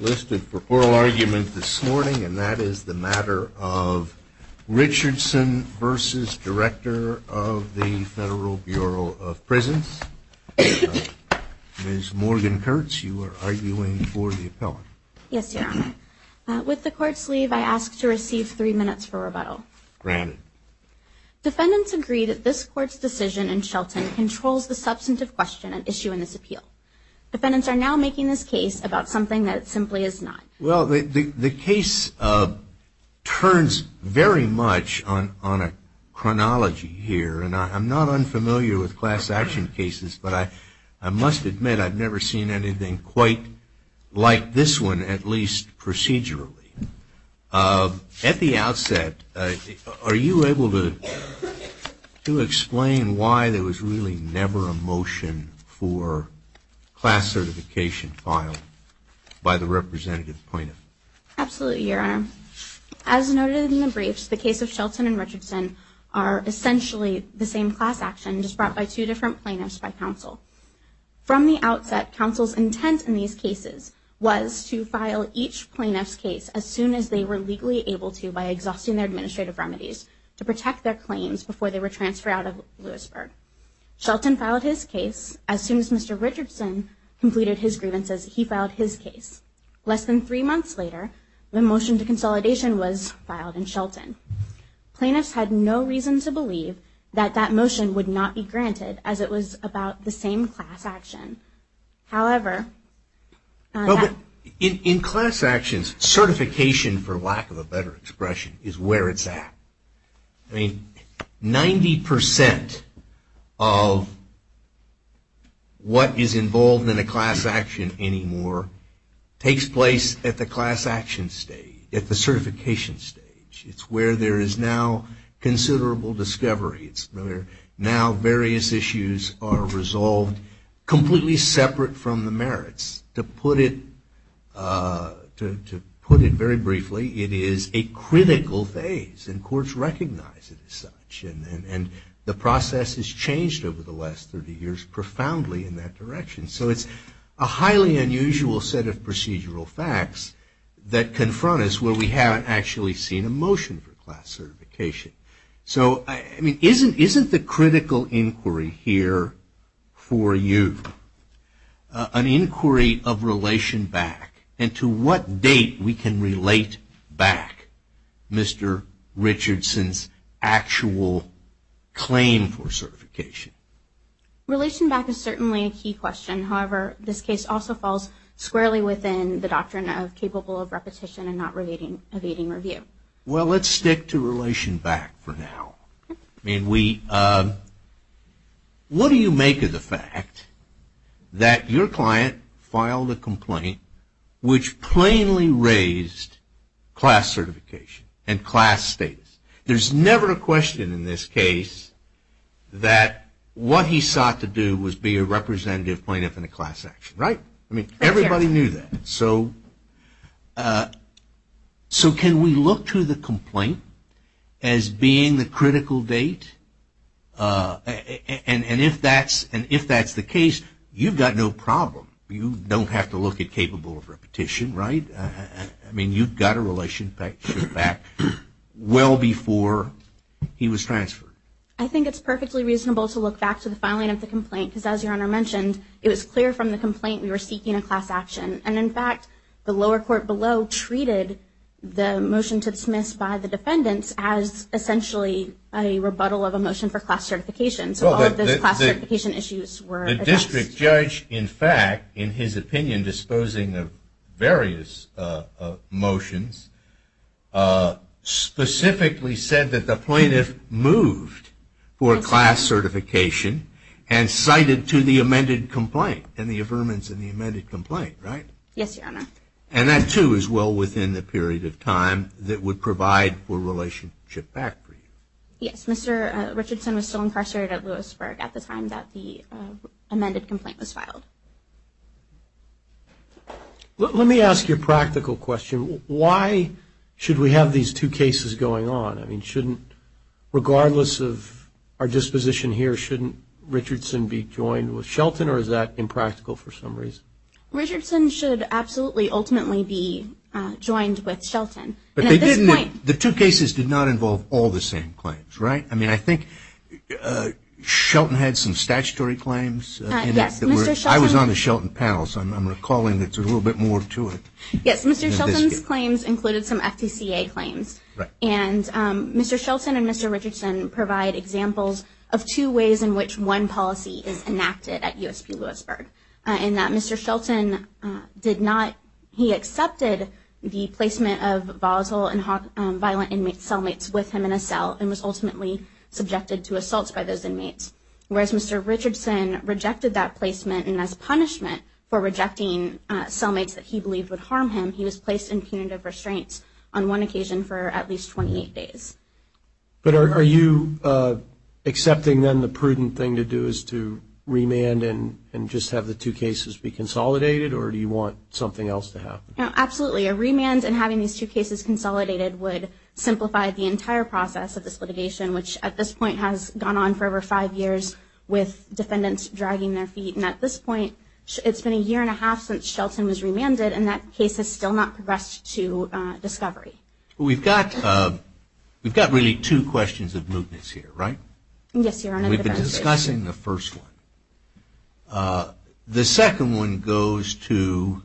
Listed for oral argument this morning and that is the matter of Richardson versus Director of the Federal Bureau of Prisons. Ms. Morgan Kurtz, you are arguing for the appellate. Yes, Your Honor. With the court's leave, I ask to receive three minutes for rebuttal. Granted. Defendants agree that this court's decision in Shelton controls the substantive question at issue in this case about something that simply is not. Well, the case turns very much on a chronology here and I'm not unfamiliar with class action cases, but I must admit I've never seen anything quite like this one, at least procedurally. At the outset, are you able to explain why there was really never a motion for class certification filed by the representative plaintiff? Absolutely, Your Honor. As noted in the briefs, the case of Shelton and Richardson are essentially the same class action just brought by two different plaintiffs by counsel. From the outset, counsel's intent in these cases was to file each plaintiff's case as soon as they were legally able to by exhausting their administrative remedies to protect their claims before they were transferred out of Lewisburg. Shelton filed his case as soon as Mr. Richardson completed his grievances. He filed his case. Less than three months later, the motion to consolidation was filed in Shelton. Plaintiffs had no reason to believe that that motion would not be granted as it was about the same class action. However, in class actions, certification, for lack of a better expression, is where it's at. Ninety percent of what is involved in a class action anymore takes place at the class action stage, at the certification stage. It's where there is now considerable discovery. Now various issues are resolved completely separate from the merits. To put it very simply, it's a critical phase and courts recognize it as such and the process has changed over the last 30 years profoundly in that direction. So it's a highly unusual set of procedural facts that confront us where we haven't actually seen a motion for class certification. So, I mean, isn't the critical inquiry here for you an inquiry of relation back and to what date we can relate back Mr. Richardson's actual claim for certification? Relation back is certainly a key question. However, this case also falls squarely within the doctrine of capable of repetition and not evading review. Well, let's stick to relation back for now. What do you make of the fact that your client filed a complaint which plainly raised class certification and class status? There's never a question in this case that what he sought to do was be a representative plaintiff in a class action, right? I mean, everybody knew that. So can we look to the complaint as being the critical date? And if that's the case, you've got no problem. You don't have to look at capable of repetition, right? I mean, you've got a relation back well before he was transferred. I think it's perfectly reasonable to look back to the filing of the complaint because as your honor mentioned, it was clear from the complaint we were seeking a class action. And in fact, the lower court below treated the motion to dismiss by the defendants as essentially a rebuttal of a motion for class certification. So all of those class certification issues were addressed. The district judge, in fact, in his opinion disposing of various motions, specifically said that the plaintiff moved for a class certification and cited to the amended complaint and the affirmance in the amended complaint, right? Yes, your honor. And that too is well within the period of time that would provide for relationship back for you. Yes, Mr. Richardson was still incarcerated at Lewisburg at the time that the amended complaint was filed. Let me ask you a practical question. Why should we have these two cases going on? I mean, shouldn't regardless of our disposition here, shouldn't Richardson be joined with Shelton or is that impractical for some reason? Richardson should absolutely ultimately be joined with Shelton. But the two cases did not involve all the same claims, right? I mean, I think Shelton had some statutory claims. Yes. I was on the Shelton panel, so I'm recalling it's a little bit more to it. Yes, Mr. Shelton's claims included some FTCA claims. And Mr. Shelton and Mr. Richardson provide examples of two ways in which one policy is enacted at USP Lewisburg. And that Mr. Shelton did not, he accepted the placement of volatile and violent cellmates with him in a cell and was ultimately subjected to assaults by those inmates. Whereas Mr. Richardson rejected that placement and as punishment for rejecting cellmates that he believed would harm him, he was placed in punitive restraints on one occasion for at least 28 days. But are you accepting then the prudent thing to do is to remand and just have the two cases be consolidated? Or do you want something else to happen? Absolutely. A lot of this has simplified the entire process of this litigation, which at this point has gone on for over five years with defendants dragging their feet. And at this point, it's been a year and a half since Shelton was remanded, and that case has still not progressed to discovery. We've got really two questions of mootness here, right? Yes, Your Honor. And we've been discussing the first one. The second one goes to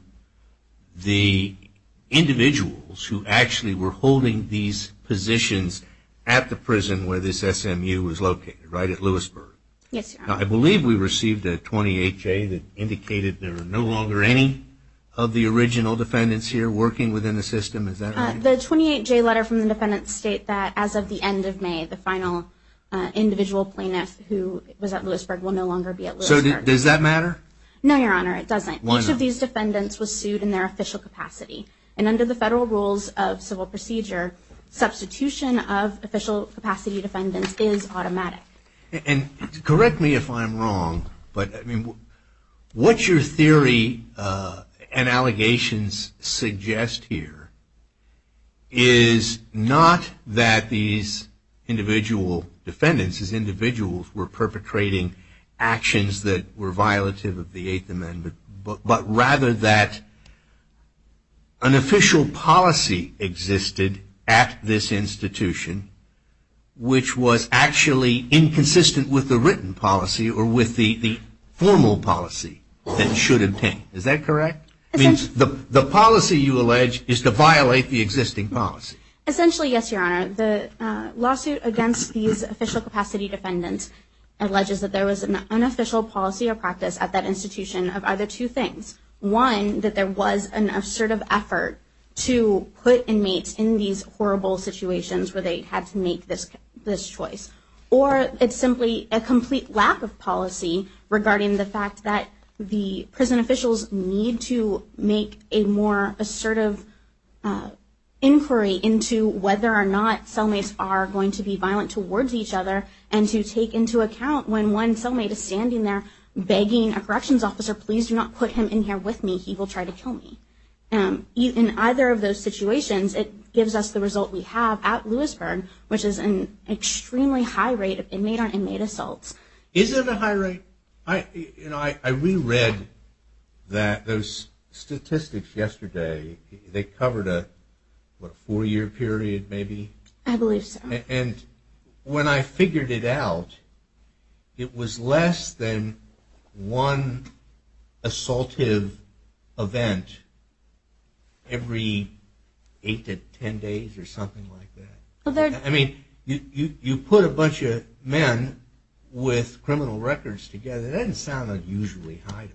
the individuals who actually were holding these positions at the prison where this SMU was located, right at Lewisburg. Yes, Your Honor. I believe we received a 28-J that indicated there are no longer any of the original defendants here working within the system. Is that right? The 28-J letter from the defendants state that as of the end of May, the final individual plaintiff who was at Lewisburg will no longer be at Lewisburg. So does that matter? No, Your Honor, it doesn't. Each of these defendants was sued in their official capacity. And under the federal rules of civil procedure, substitution of official capacity defendants is automatic. And correct me if I'm wrong, but what your theory and allegations suggest here is not that these individual defendants, these individuals were perpetrating actions that were violative of the Eighth Amendment, but rather that an official policy existed at this institution which was actually inconsistent with the written policy or with the formal policy that should obtain. Is that correct? The policy, you allege, is to violate the existing policy. Essentially, yes, Your Honor. The lawsuit against these official capacity defendants alleges that there was an unofficial policy or practice at that institution of either two things. One, that there was an assertive effort to put inmates in these horrible situations where they had to make this choice. Or it's simply a complete lack of policy regarding the fact that the prison officials need to make a more assertive inquiry into whether or not cellmates are going to be violent towards each other and to take into consideration whether or not the cellmates are going to be violent towards assaults. And I'm not just standing there begging a corrections officer, please do not put him in here with me. He will try to kill me. In either of those situations, it gives us the result we have at Lewisburg, which is an extremely high rate of inmate on inmate assaults. Is it a high rate? I reread those statistics yesterday. They covered a four-year period, maybe? I believe so. And when I figured it out, it was less than one assaultive event every eight to ten days or something like that. I mean, you put a bunch of men with criminal records together, that doesn't sound unusually high.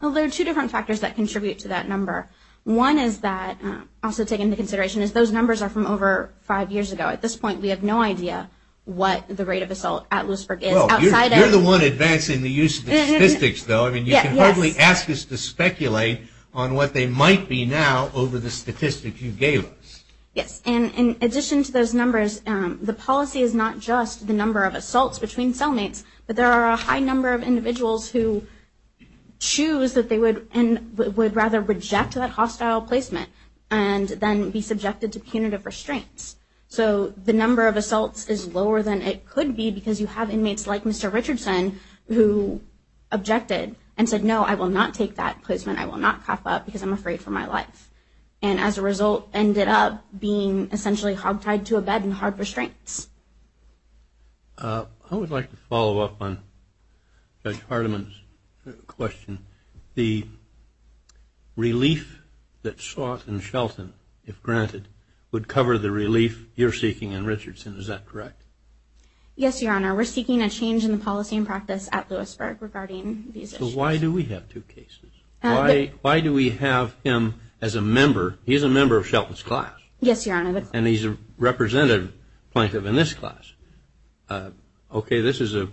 Well, there are two different factors that contribute to that number. One is that, also taken into consideration, is those numbers are from over five years ago. At this point, we have no idea what the rate of assault at Lewisburg is. Well, you're the one advancing the use of the statistics, though. I mean, you can hardly ask us to speculate on what they might be now over the statistics you gave us. Yes. And in addition to those numbers, the policy is not just limited to assaults between cellmates, but there are a high number of individuals who choose that they would rather reject that hostile placement and then be subjected to punitive restraints. So the number of assaults is lower than it could be because you have inmates like Mr. Richardson, who objected and said, no, I will not take that placement. I will not cough up because I'm afraid for my life. And as a result, ended up being essentially I'd just like to follow up on Judge Hardiman's question. The relief that sought in Shelton, if granted, would cover the relief you're seeking in Richardson, is that correct? Yes, Your Honor. We're seeking a change in the policy and practice at Lewisburg regarding these issues. So why do we have two cases? Why do we have him as a member? He's a member of Shelton's class. Yes, Your Honor. And he's a representative plaintiff in this class. This is a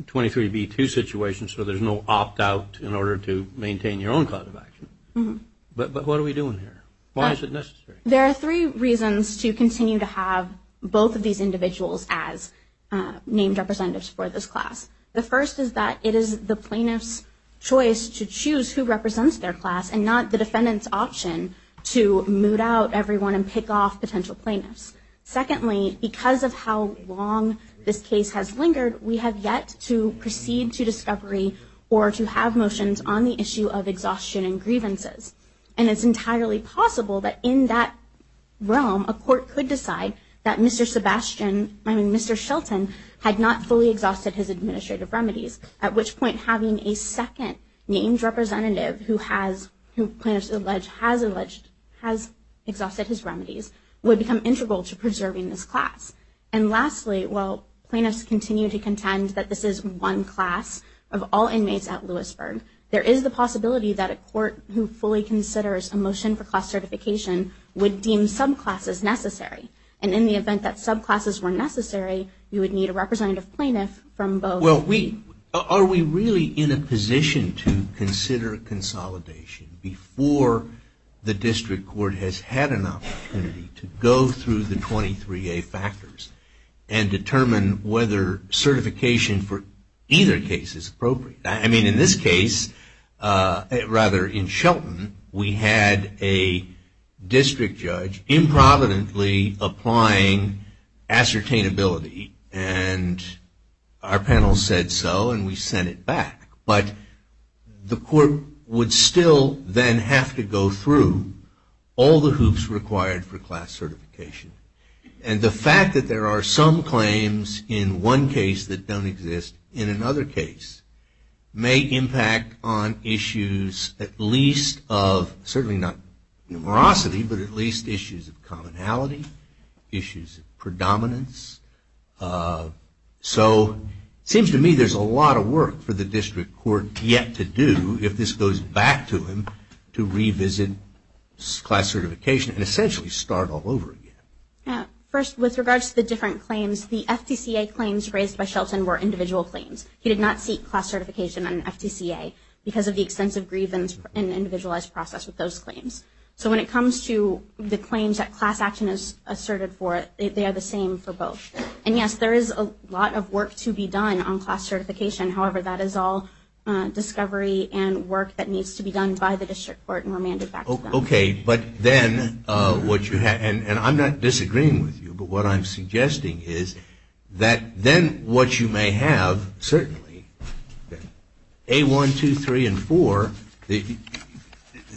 23B2 situation, so there's no opt-out in order to maintain your own class of action. But what are we doing here? Why is it necessary? There are three reasons to continue to have both of these individuals as named representatives for this class. The first is that it is the plaintiff's choice to choose who represents their class and not the defendant's option to moot out everyone and pick off potential plaintiffs. Secondly, because of how long this case has lingered, the defendant's option to moot out everyone and pick off potential plaintiffs has lingered. We have yet to proceed to discovery or to have motions on the issue of exhaustion and grievances. And it's entirely possible that in that realm, a court could decide that Mr. Shelton had not fully exhausted his administrative remedies, at which point having a second named representative who plaintiffs allege has exhausted his remedies would become integral to preserving this class. And lastly, class and not the defendant's option to moot out everyone and pick I'm not going to contend that this is one class of all inmates at Lewisburg. There is the possibility that a court who fully considers a motion for class certification would deem subclasses necessary. And in the event that subclasses were necessary, you would need a representative plaintiff from both. Well, are we really in a position to consider consolidation before the district court has had an opportunity to go through the 23A factors and determine whether certification is necessary? Well, I think that the question is, is class certification for either case appropriate? I mean, in this case, rather in Shelton, we had a district judge improvidently applying ascertainability. And our panel said so, and we sent it back. But the court would still then have to go through all the hoops required for class certification. And the fact some claims in one case that do not require class certification, and the claims that don't exist in another case, may impact on issues at least of, certainly not numerosity, but at least issues of commonality, issues of predominance. So it seems to me there is a lot of work for the district court yet to do if this goes back to him to revisit class certification and essentially start all over again. First, with regards to the different claims, the FDCA claims raised by class certification were individual claims. He did not seek class certification on an FDCA because of the extensive grievance and individualized process with those claims. So when it comes to the claims that class action is asserted for, they are the same for both. And yes, there is a lot of work to be done on class certification. However, that is all discovery and work that needs to be done by the district court and remanded back to them. Okay. But then, what you have, and I'm not disagreeing with you, but what I'm suggesting is that then what you have to do is you have to look at who may have, certainly, A1, 2, 3, and 4,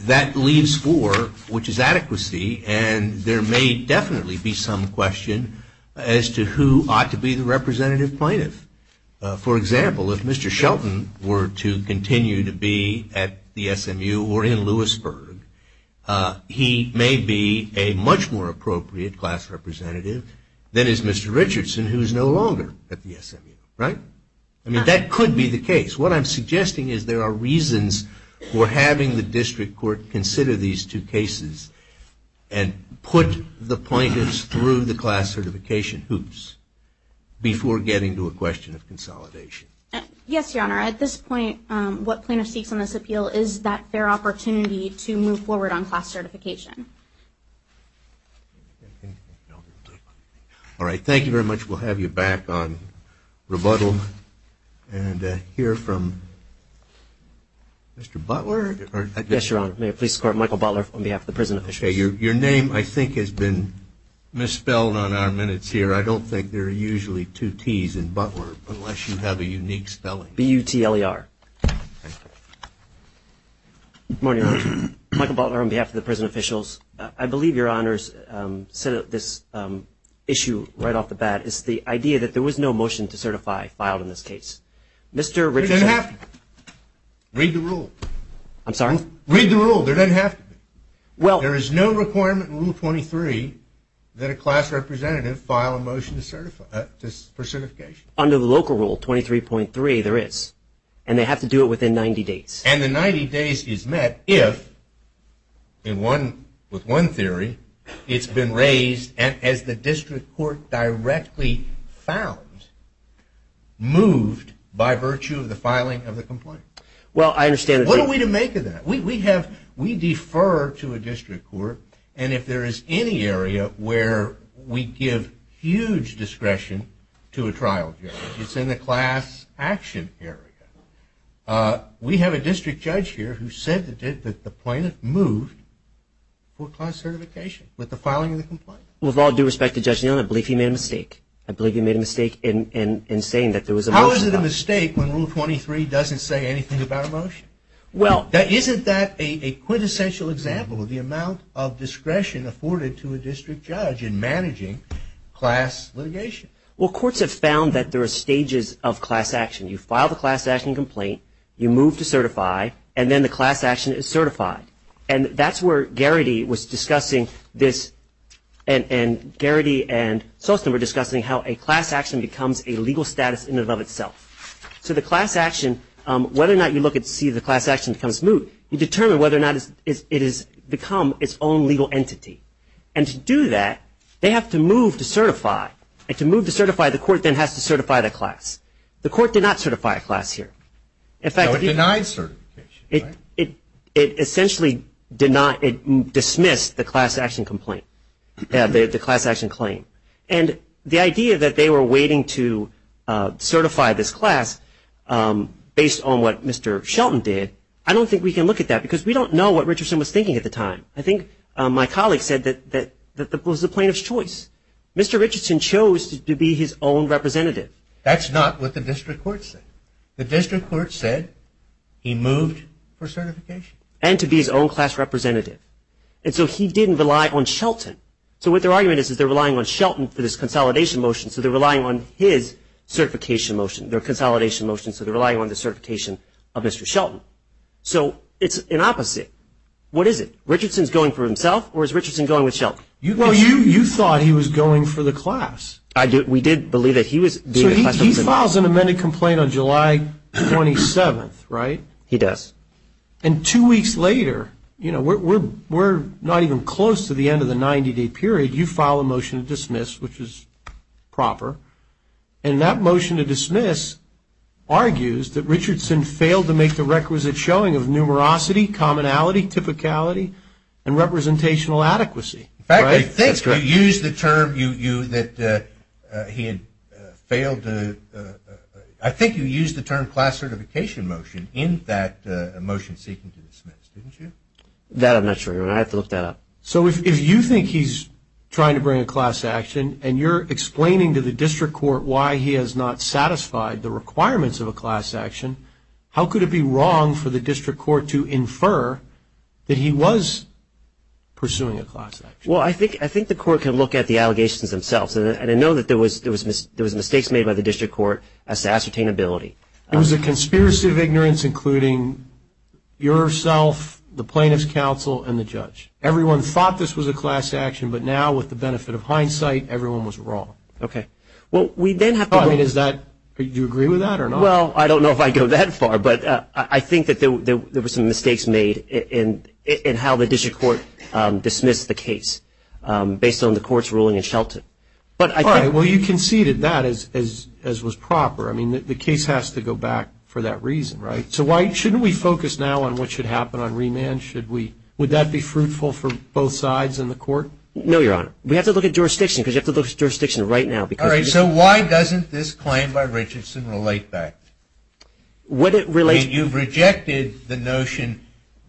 that leaves four, which is adequacy, and there may definitely be some question as to who ought to be the representative plaintiff. For example, if Mr. Shelton were to continue to be at the SMU or in Lewisburg, he may be a much more appropriate class representative than is Mr. Richardson, who is no longer at the SMU. Right? I mean, that could be the case. What I'm suggesting is there are reasons for having the district court consider these two cases and put the plaintiffs through the class certification hoops before getting to a question of consolidation. Yes, Your Honor. At this point, what plaintiffs seek on this appeal is that fair opportunity to move forward on class certification. All right. Thank you very much. We'll have you back on rebuttal and hear from Mr. Butler. Yes, Your Honor. Mayor of the Police Court, Michael Butler, on behalf of the prison officials. Your name, I think, has been misspelled on our minutes here. I don't think there are usually two Ts in Butler unless you have a unique spelling. B-U-T-L-E-R. Michael Butler on behalf of the prison officials. I believe, Your Honors, this issue right off the bat is the idea that there was no motion to certify filed in this case. Read the rule. I'm sorry? Read the rule. There doesn't have to be. There is no requirement in Rule 23 that a class representative file a motion for certification. Under the local rule, 23.3, there is. And they have to do it within 90 days. And the 90 days is met if, with one theory, it's been raised as the district court directly found, moved by virtue of the filing of the complaint. Well, I understand. What are we to make of that? We defer to a district court. And if there is any area where we give huge discretion to a trial judge, it's in the class action area. We have a district judge here who said that the plaintiff moved for class certification with the filing of the complaint. With all due respect to Judge Neal, I believe he made a mistake. I believe he made a mistake in saying that there was a motion. How is it a mistake when Rule 23 doesn't say anything about a motion? Well. Isn't that a quintessential example of the amount of discretion afforded to a district judge in managing class litigation? Well, courts have found that there are stages of class action. You file the class action complaint. You move to certify. And then the class action is certified. And that's where Garrity was discussing this. And Garrity and Sostin were discussing how a class action becomes a legal status in and of itself. So the class action, whether or not you look and see the class action becomes moot, you determine whether or not it has become its own legal entity. And to do that, they have to move to certify. And to move to certify, the court then has to certify the class. The court did not certify a class here. So it denied certification, right? It essentially dismissed the class action complaint, the class action claim. And the idea that they were waiting to certify this class based on what Mr. Shelton did, I don't think we can look at that because we don't know what Richardson was thinking at the time. I think my colleague said that that was the plaintiff's choice. Mr. Richardson chose to be his own representative. That's not what the district court said. The district court said he moved for certification. And to be his own class representative. And so he didn't rely on Shelton. So what their argument is is they're relying on Shelton for this consolidation motion. So they're relying on his certification motion, their consolidation motion. So they're relying on the certification of Mr. Shelton. So it's an opposite. What is it? Richardson's going for himself or is Richardson going with Shelton? Well, you thought he was going for the class. We did believe that he was being a class representative. So he files an amended complaint on July 27th, right? He does. And two weeks later, you know, we're not even close to the end of the 90-day period. You file a motion to dismiss, which is proper. And that motion to dismiss argues that Richardson failed to make the requisite showing of numerosity, commonality, typicality, and representational adequacy. In fact, I think you used the term that he had failed to ‑‑ I think you used the term class certification motion in that motion seeking to dismiss, didn't you? That I'm not sure. I have to look that up. So if you think he's trying to bring a class action and you're explaining to the district court why he has not satisfied the requirements of a class action, how could it be wrong for the district court to infer that he was pursuing a class action? Well, I think the court can look at the allegations themselves. And I know that there was mistakes made by the district court as to ascertainability. It was a conspiracy of ignorance, including yourself, the plaintiff's counsel, and the judge. Everyone thought this was a class action, but now, with the benefit of hindsight, everyone was wrong. Okay. Well, we then have to go ‑‑ I mean, is that ‑‑ do you agree with that or not? Well, I don't know if I go that far, but I think that there were some mistakes made in how the district court dismissed the case based on the court's ruling in Shelton. All right. Well, you conceded that as was proper. I mean, the case has to go back for that reason, right? So why ‑‑ shouldn't we focus now on what should happen on remand? Should we ‑‑ would that be fruitful for both sides in the court? No, Your Honor. We have to look at jurisdiction because you have to look at jurisdiction right now. All right. So why doesn't this claim by Richardson relate back? What it relates ‑‑ I mean, you've rejected the notion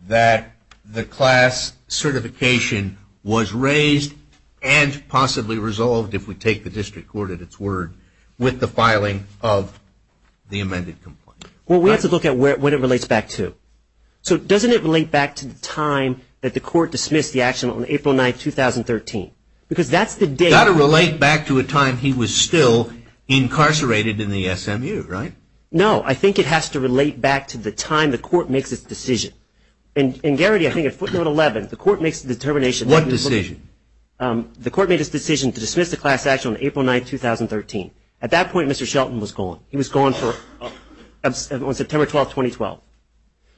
that the class certification was raised and possibly resolved, if we take the district court at its word, with the filing of the amended complaint. Well, we have to look at what it relates back to. So doesn't it relate back to the time that the court dismissed the action on April 9, 2013? Because that's the date. It's got to relate back to a time he was still incarcerated in the SMU, right? No. I think it has to relate back to the time the court makes its decision. And, Garrity, I think at footnote 11, the court makes the determination. What decision? The court made its decision to dismiss the class action on April 9, 2013. At that point, Mr. Shelton was gone. He was gone for ‑‑ on September 12, 2012.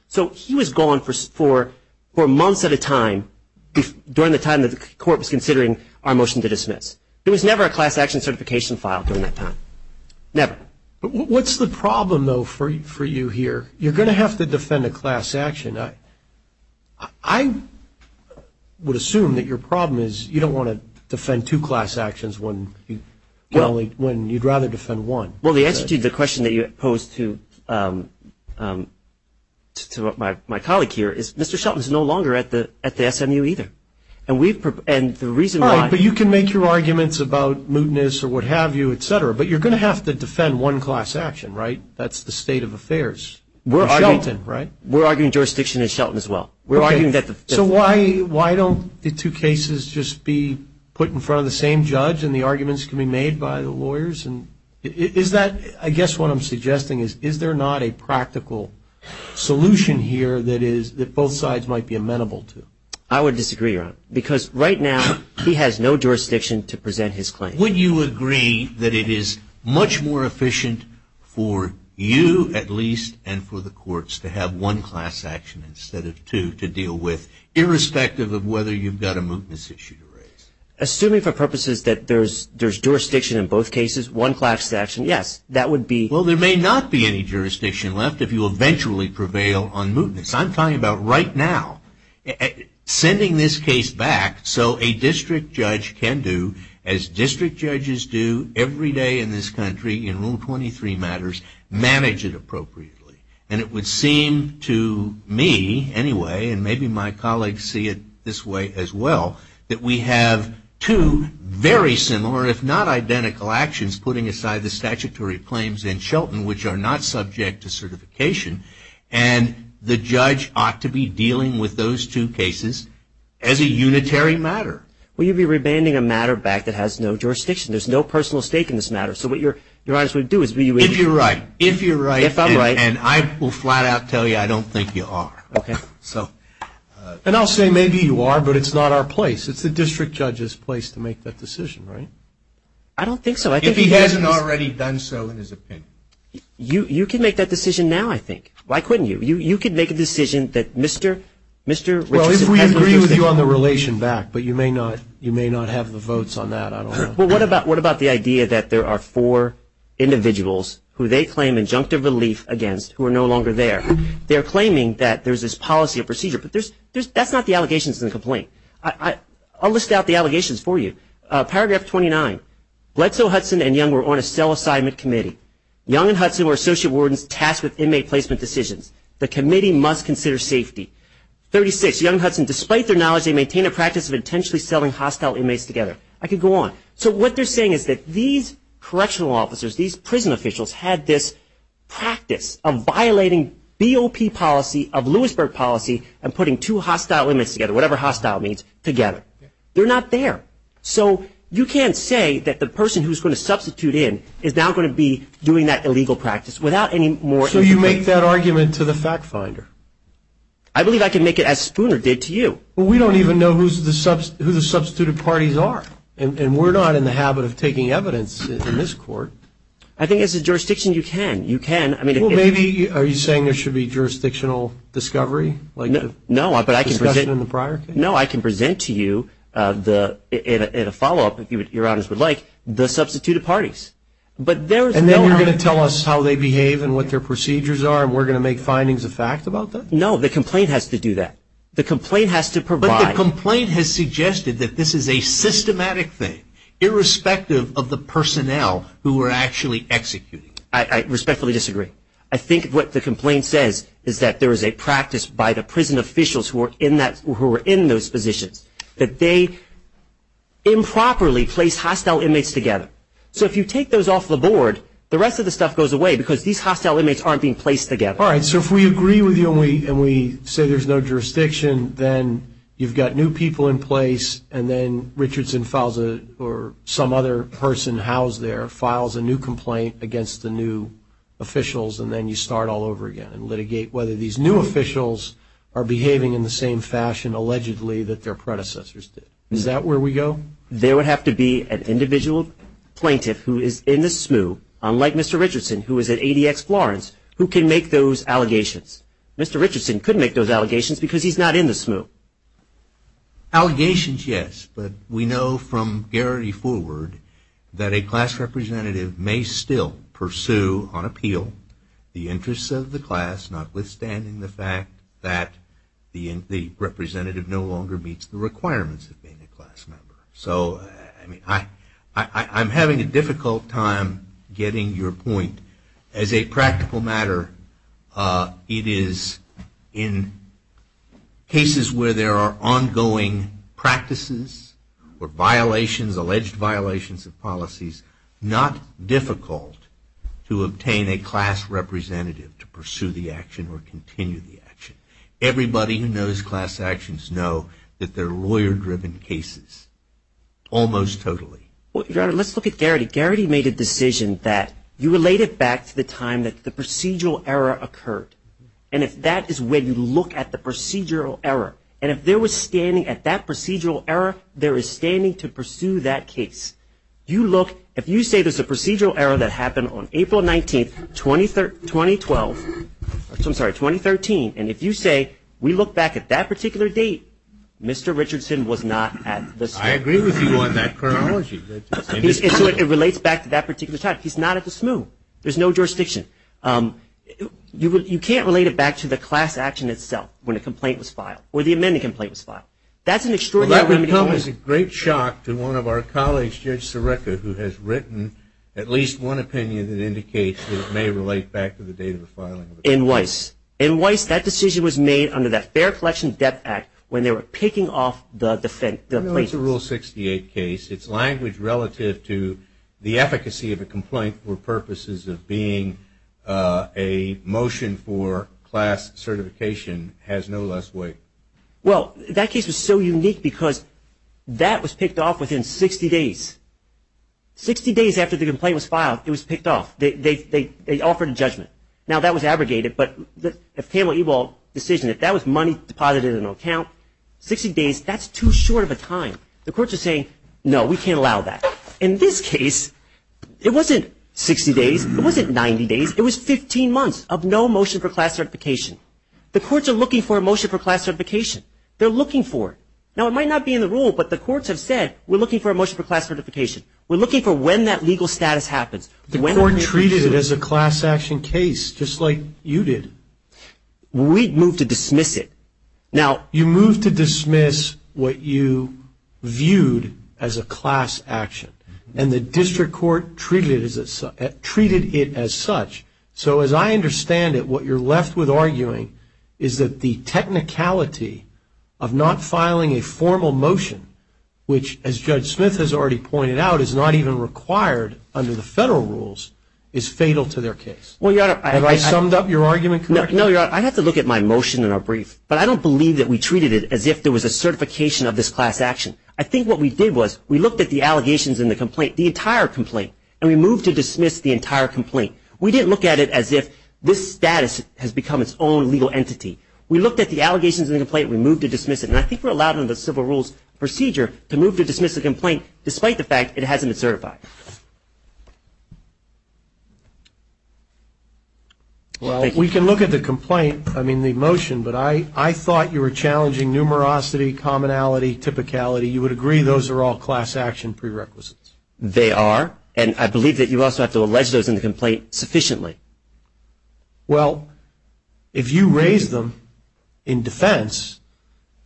So he was gone for months at a time during the time that the court was considering our motion to dismiss. There was never a class action certification filed during that time. Never. What's the problem, though, for you here? You're going to have to defend a class action. I would assume that your problem is you don't want to defend two class actions when you'd rather defend one. Well, the answer to the question that you posed to my colleague here is Mr. Shelton is no longer at the SMU either. And the reason why ‑‑ All right, but you can make your arguments about mootness or what have you, et cetera. But you're going to have to defend one class action, right? That's the state of affairs. Shelton, right? We're arguing jurisdiction in Shelton as well. Okay. So why don't the two cases just be put in front of the same judge and the arguments can be made by the lawyers? And is that, I guess what I'm suggesting is, is there not a practical solution here that both sides might be amenable to? I would disagree, Ron, because right now he has no jurisdiction to present his claim. Would you agree that it is much more efficient for you at least and for the courts to have one class action instead of two to deal with, irrespective of whether you've got a mootness issue to raise? Assuming for purposes that there's jurisdiction in both cases, one class action, yes, that would be ‑‑ Well, there may not be any jurisdiction left if you eventually prevail on mootness. I'm talking about right now. Sending this case back so a district judge can do, as district judges do every day in this country in Rule 23 matters, manage it appropriately. And it would seem to me anyway, and maybe my colleagues see it this way as well, that we have two very similar, if not identical, actions putting aside the statutory claims in Shelton, which are not subject to certification, and the judge ought to be dealing with those two cases as a unitary matter. Well, you'd be remanding a matter back that has no jurisdiction. There's no personal stake in this matter. So what you might as well do is ‑‑ If you're right. If I'm right. And I will flat out tell you I don't think you are. Okay. And I'll say maybe you are, but it's not our place. It's the district judge's place to make that decision, right? I don't think so. If he hasn't already done so in his opinion. You can make that decision now, I think. Why couldn't you? You could make a decision that Mr. Richardson has ‑‑ Well, if we agree with you on the relation back, but you may not have the votes on that, I don't know. Well, what about the idea that there are four individuals who they claim injunctive relief against who are no longer there. They're claiming that there's this policy or procedure. But that's not the allegations in the complaint. I'll list out the allegations for you. Paragraph 29. Bledsoe, Hudson, and Young were on a cell assignment committee. Young and Hudson were associate wardens tasked with inmate placement decisions. The committee must consider safety. 36. Young and Hudson, despite their knowledge, they maintain a practice of intentionally selling hostile inmates together. I could go on. So what they're saying is that these correctional officers, these prison officials had this practice of violating BOP policy of Lewisburg policy and putting two hostile inmates together, whatever hostile means, together. They're not there. So you can't say that the person who's going to substitute in is now going to be doing that illegal practice without any more ‑‑ So you make that argument to the fact finder. I believe I can make it as Spooner did to you. Well, we don't even know who the substituted parties are. And we're not in the habit of taking evidence in this court. I think as a jurisdiction you can. You can. Well, maybe are you saying there should be jurisdictional discovery? No, but I can present to you in a follow‑up, if your honors would like, the substituted parties. And then you're going to tell us how they behave and what their procedures are and we're going to make findings of fact about that? No, the complaint has to do that. The complaint has to provide. A systematic thing, irrespective of the personnel who are actually executing it. I respectfully disagree. I think what the complaint says is that there is a practice by the prison officials who are in those positions that they improperly place hostile inmates together. So if you take those off the board, the rest of the stuff goes away because these hostile inmates aren't being placed together. All right, so if we agree with you and we say there's no jurisdiction, then you've got new people in place and then Richardson files a or some other person housed there files a new complaint against the new officials and then you start all over again and litigate whether these new officials are behaving in the same fashion, allegedly, that their predecessors did. Is that where we go? There would have to be an individual plaintiff who is in the SMU, unlike Mr. Richardson who is at ADX Florence, who can make those allegations. Mr. Richardson could make those allegations because he's not in the SMU. Allegations, yes. But we know from Garrity forward that a class representative may still pursue on appeal the interests of the class, notwithstanding the fact that the representative no longer meets the requirements of being a class member. So I'm having a difficult time getting your point. As a practical matter, it is in cases where there are ongoing practices or violations, alleged violations of policies, not difficult to obtain a class representative to pursue the action or continue the action. Everybody who knows class actions know that they're lawyer-driven cases, almost totally. Let's look at Garrity. Garrity made a decision that you relate it back to the time that the procedural error occurred. And if that is when you look at the procedural error, and if there was standing at that procedural error, there is standing to pursue that case. If you say there's a procedural error that happened on April 19, 2013, and if you say we look back at that particular date, Mr. Richardson was not at the SMU. I agree with you on that chronology. It relates back to that particular time. He's not at the SMU. There's no jurisdiction. You can't relate it back to the class action itself when a complaint was filed or the amended complaint was filed. That would come as a great shock to one of our colleagues, Judge Sirica, who has written at least one opinion that indicates that it may relate back to the date of the filing. In Weiss. In Weiss, that decision was made under the Fair Collection Debt Act when they were picking off the plaintiffs. It's a Rule 68 case. Its language relative to the efficacy of a complaint for purposes of being a motion for class certification has no less weight. Well, that case was so unique because that was picked off within 60 days. Sixty days after the complaint was filed, it was picked off. They offered a judgment. Now, that was abrogated, but if Pamela Ebal's decision, if that was money deposited in an account, 60 days, that's too short of a time. The courts are saying, no, we can't allow that. In this case, it wasn't 60 days. It wasn't 90 days. It was 15 months of no motion for class certification. The courts are looking for a motion for class certification. They're looking for it. Now, it might not be in the rule, but the courts have said, we're looking for a motion for class certification. We're looking for when that legal status happens. The court treated it as a class action case, just like you did. We moved to dismiss it. Now, you moved to dismiss what you viewed as a class action, and the district court treated it as such. So, as I understand it, what you're left with arguing is that the technicality of not filing a formal motion, which, as Judge Smith has already pointed out, is not even required under the federal rules, is fatal to their case. Have I summed up your argument correctly? No, Your Honor. I have to look at my motion in a brief, but I don't believe that we treated it as if there was a certification of this class action. I think what we did was we looked at the allegations in the complaint, the entire complaint, and we moved to dismiss the entire complaint. We didn't look at it as if this status has become its own legal entity. We looked at the allegations in the complaint, we moved to dismiss it, and I think we're allowed under the civil rules procedure to move to dismiss the complaint, despite the fact it hasn't been certified. Well, we can look at the complaint, I mean the motion, but I thought you were challenging numerosity, commonality, typicality. You would agree those are all class action prerequisites. They are. And I believe that you also have to allege those in the complaint sufficiently. Well, if you raise them in defense,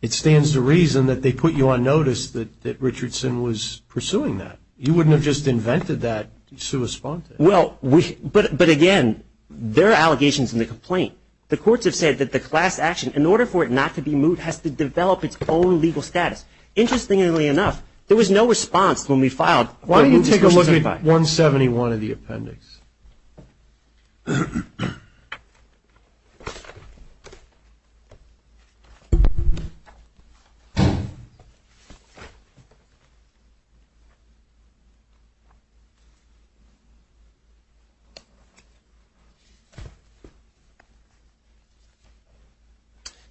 it stands to reason that they put you on notice that Richardson was pursuing that. You wouldn't have just invented that to respond to it. Well, but again, there are allegations in the complaint. The courts have said that the class action, in order for it not to be moved, has to develop its own legal status. Interestingly enough, there was no response when we filed. Why don't you take a look at 171 in the appendix? Okay.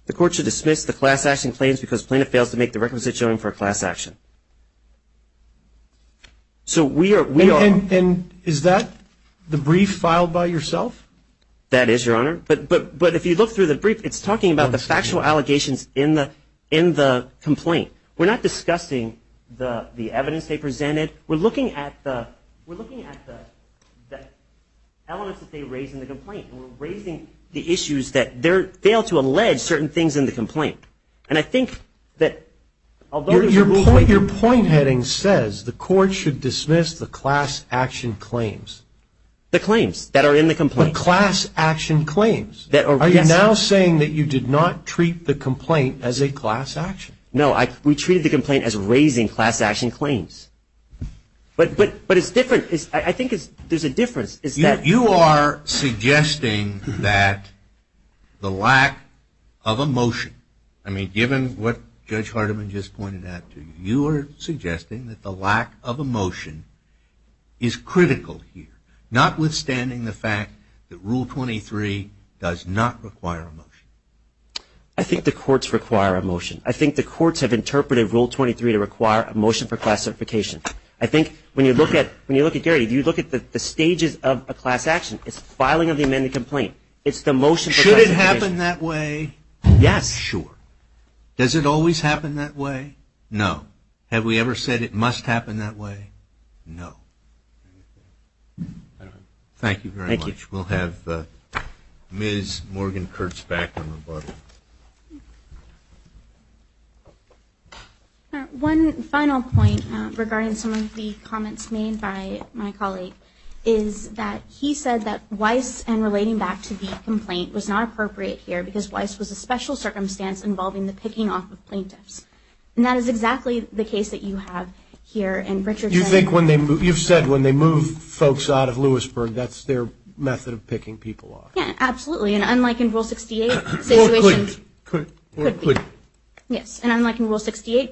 The court should dismiss the class action claims because plaintiff fails to make the requisite showing for a class action. And is that the brief filed by yourself? That is, Your Honor. But if you look through the brief, it's talking about the factual allegations in the complaint. We're not discussing the evidence they presented. We're looking at the elements that they raise in the complaint. We're raising the issues that they fail to allege certain things in the complaint. Your point heading says the court should dismiss the class action claims. The claims that are in the complaint. The class action claims. Are you now saying that you did not treat the complaint as a class action? No, we treated the complaint as raising class action claims. But I think there's a difference. You are suggesting that the lack of a motion. I mean, given what Judge Hardiman just pointed out to you, you are suggesting that the lack of a motion is critical here. Notwithstanding the fact that Rule 23 does not require a motion. I think the courts require a motion. I think the courts have interpreted Rule 23 to require a motion for classification. I think when you look at Gary, if you look at the stages of a class action, it's filing of the amended complaint. It's the motion for classification. Should it happen that way? Yes. Sure. Does it always happen that way? No. Have we ever said it must happen that way? No. Thank you very much. We'll have Ms. Morgan Kurtz back on rebuttal. All right. One final point regarding some of the comments made by my colleague is that he said that Weiss and relating back to the complaint was not appropriate here because Weiss was a special circumstance involving the picking off of plaintiffs. And that is exactly the case that you have here. You've said when they move folks out of Lewisburg, that's their method of picking people off. Yes, absolutely. And unlike in Rule 68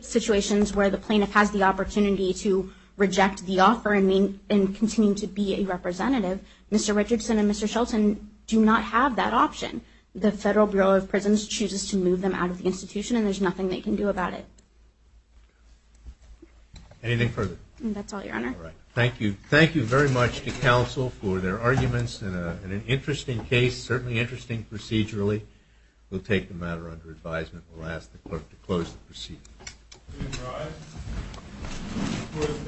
situations where the plaintiff has the opportunity to reject the offer and continue to be a representative, Mr. Richardson and Mr. Shelton do not have that option. The Federal Bureau of Prisons chooses to move them out of the institution, and there's nothing they can do about it. Anything further? That's all, Your Honor. All right. Thank you. Thank you very much to counsel for their arguments in an interesting case, certainly interesting procedurally. We'll take the matter under advisement. We'll ask the clerk to close the proceeding. Please rise. The court is adjourned until Thursday, May 19th.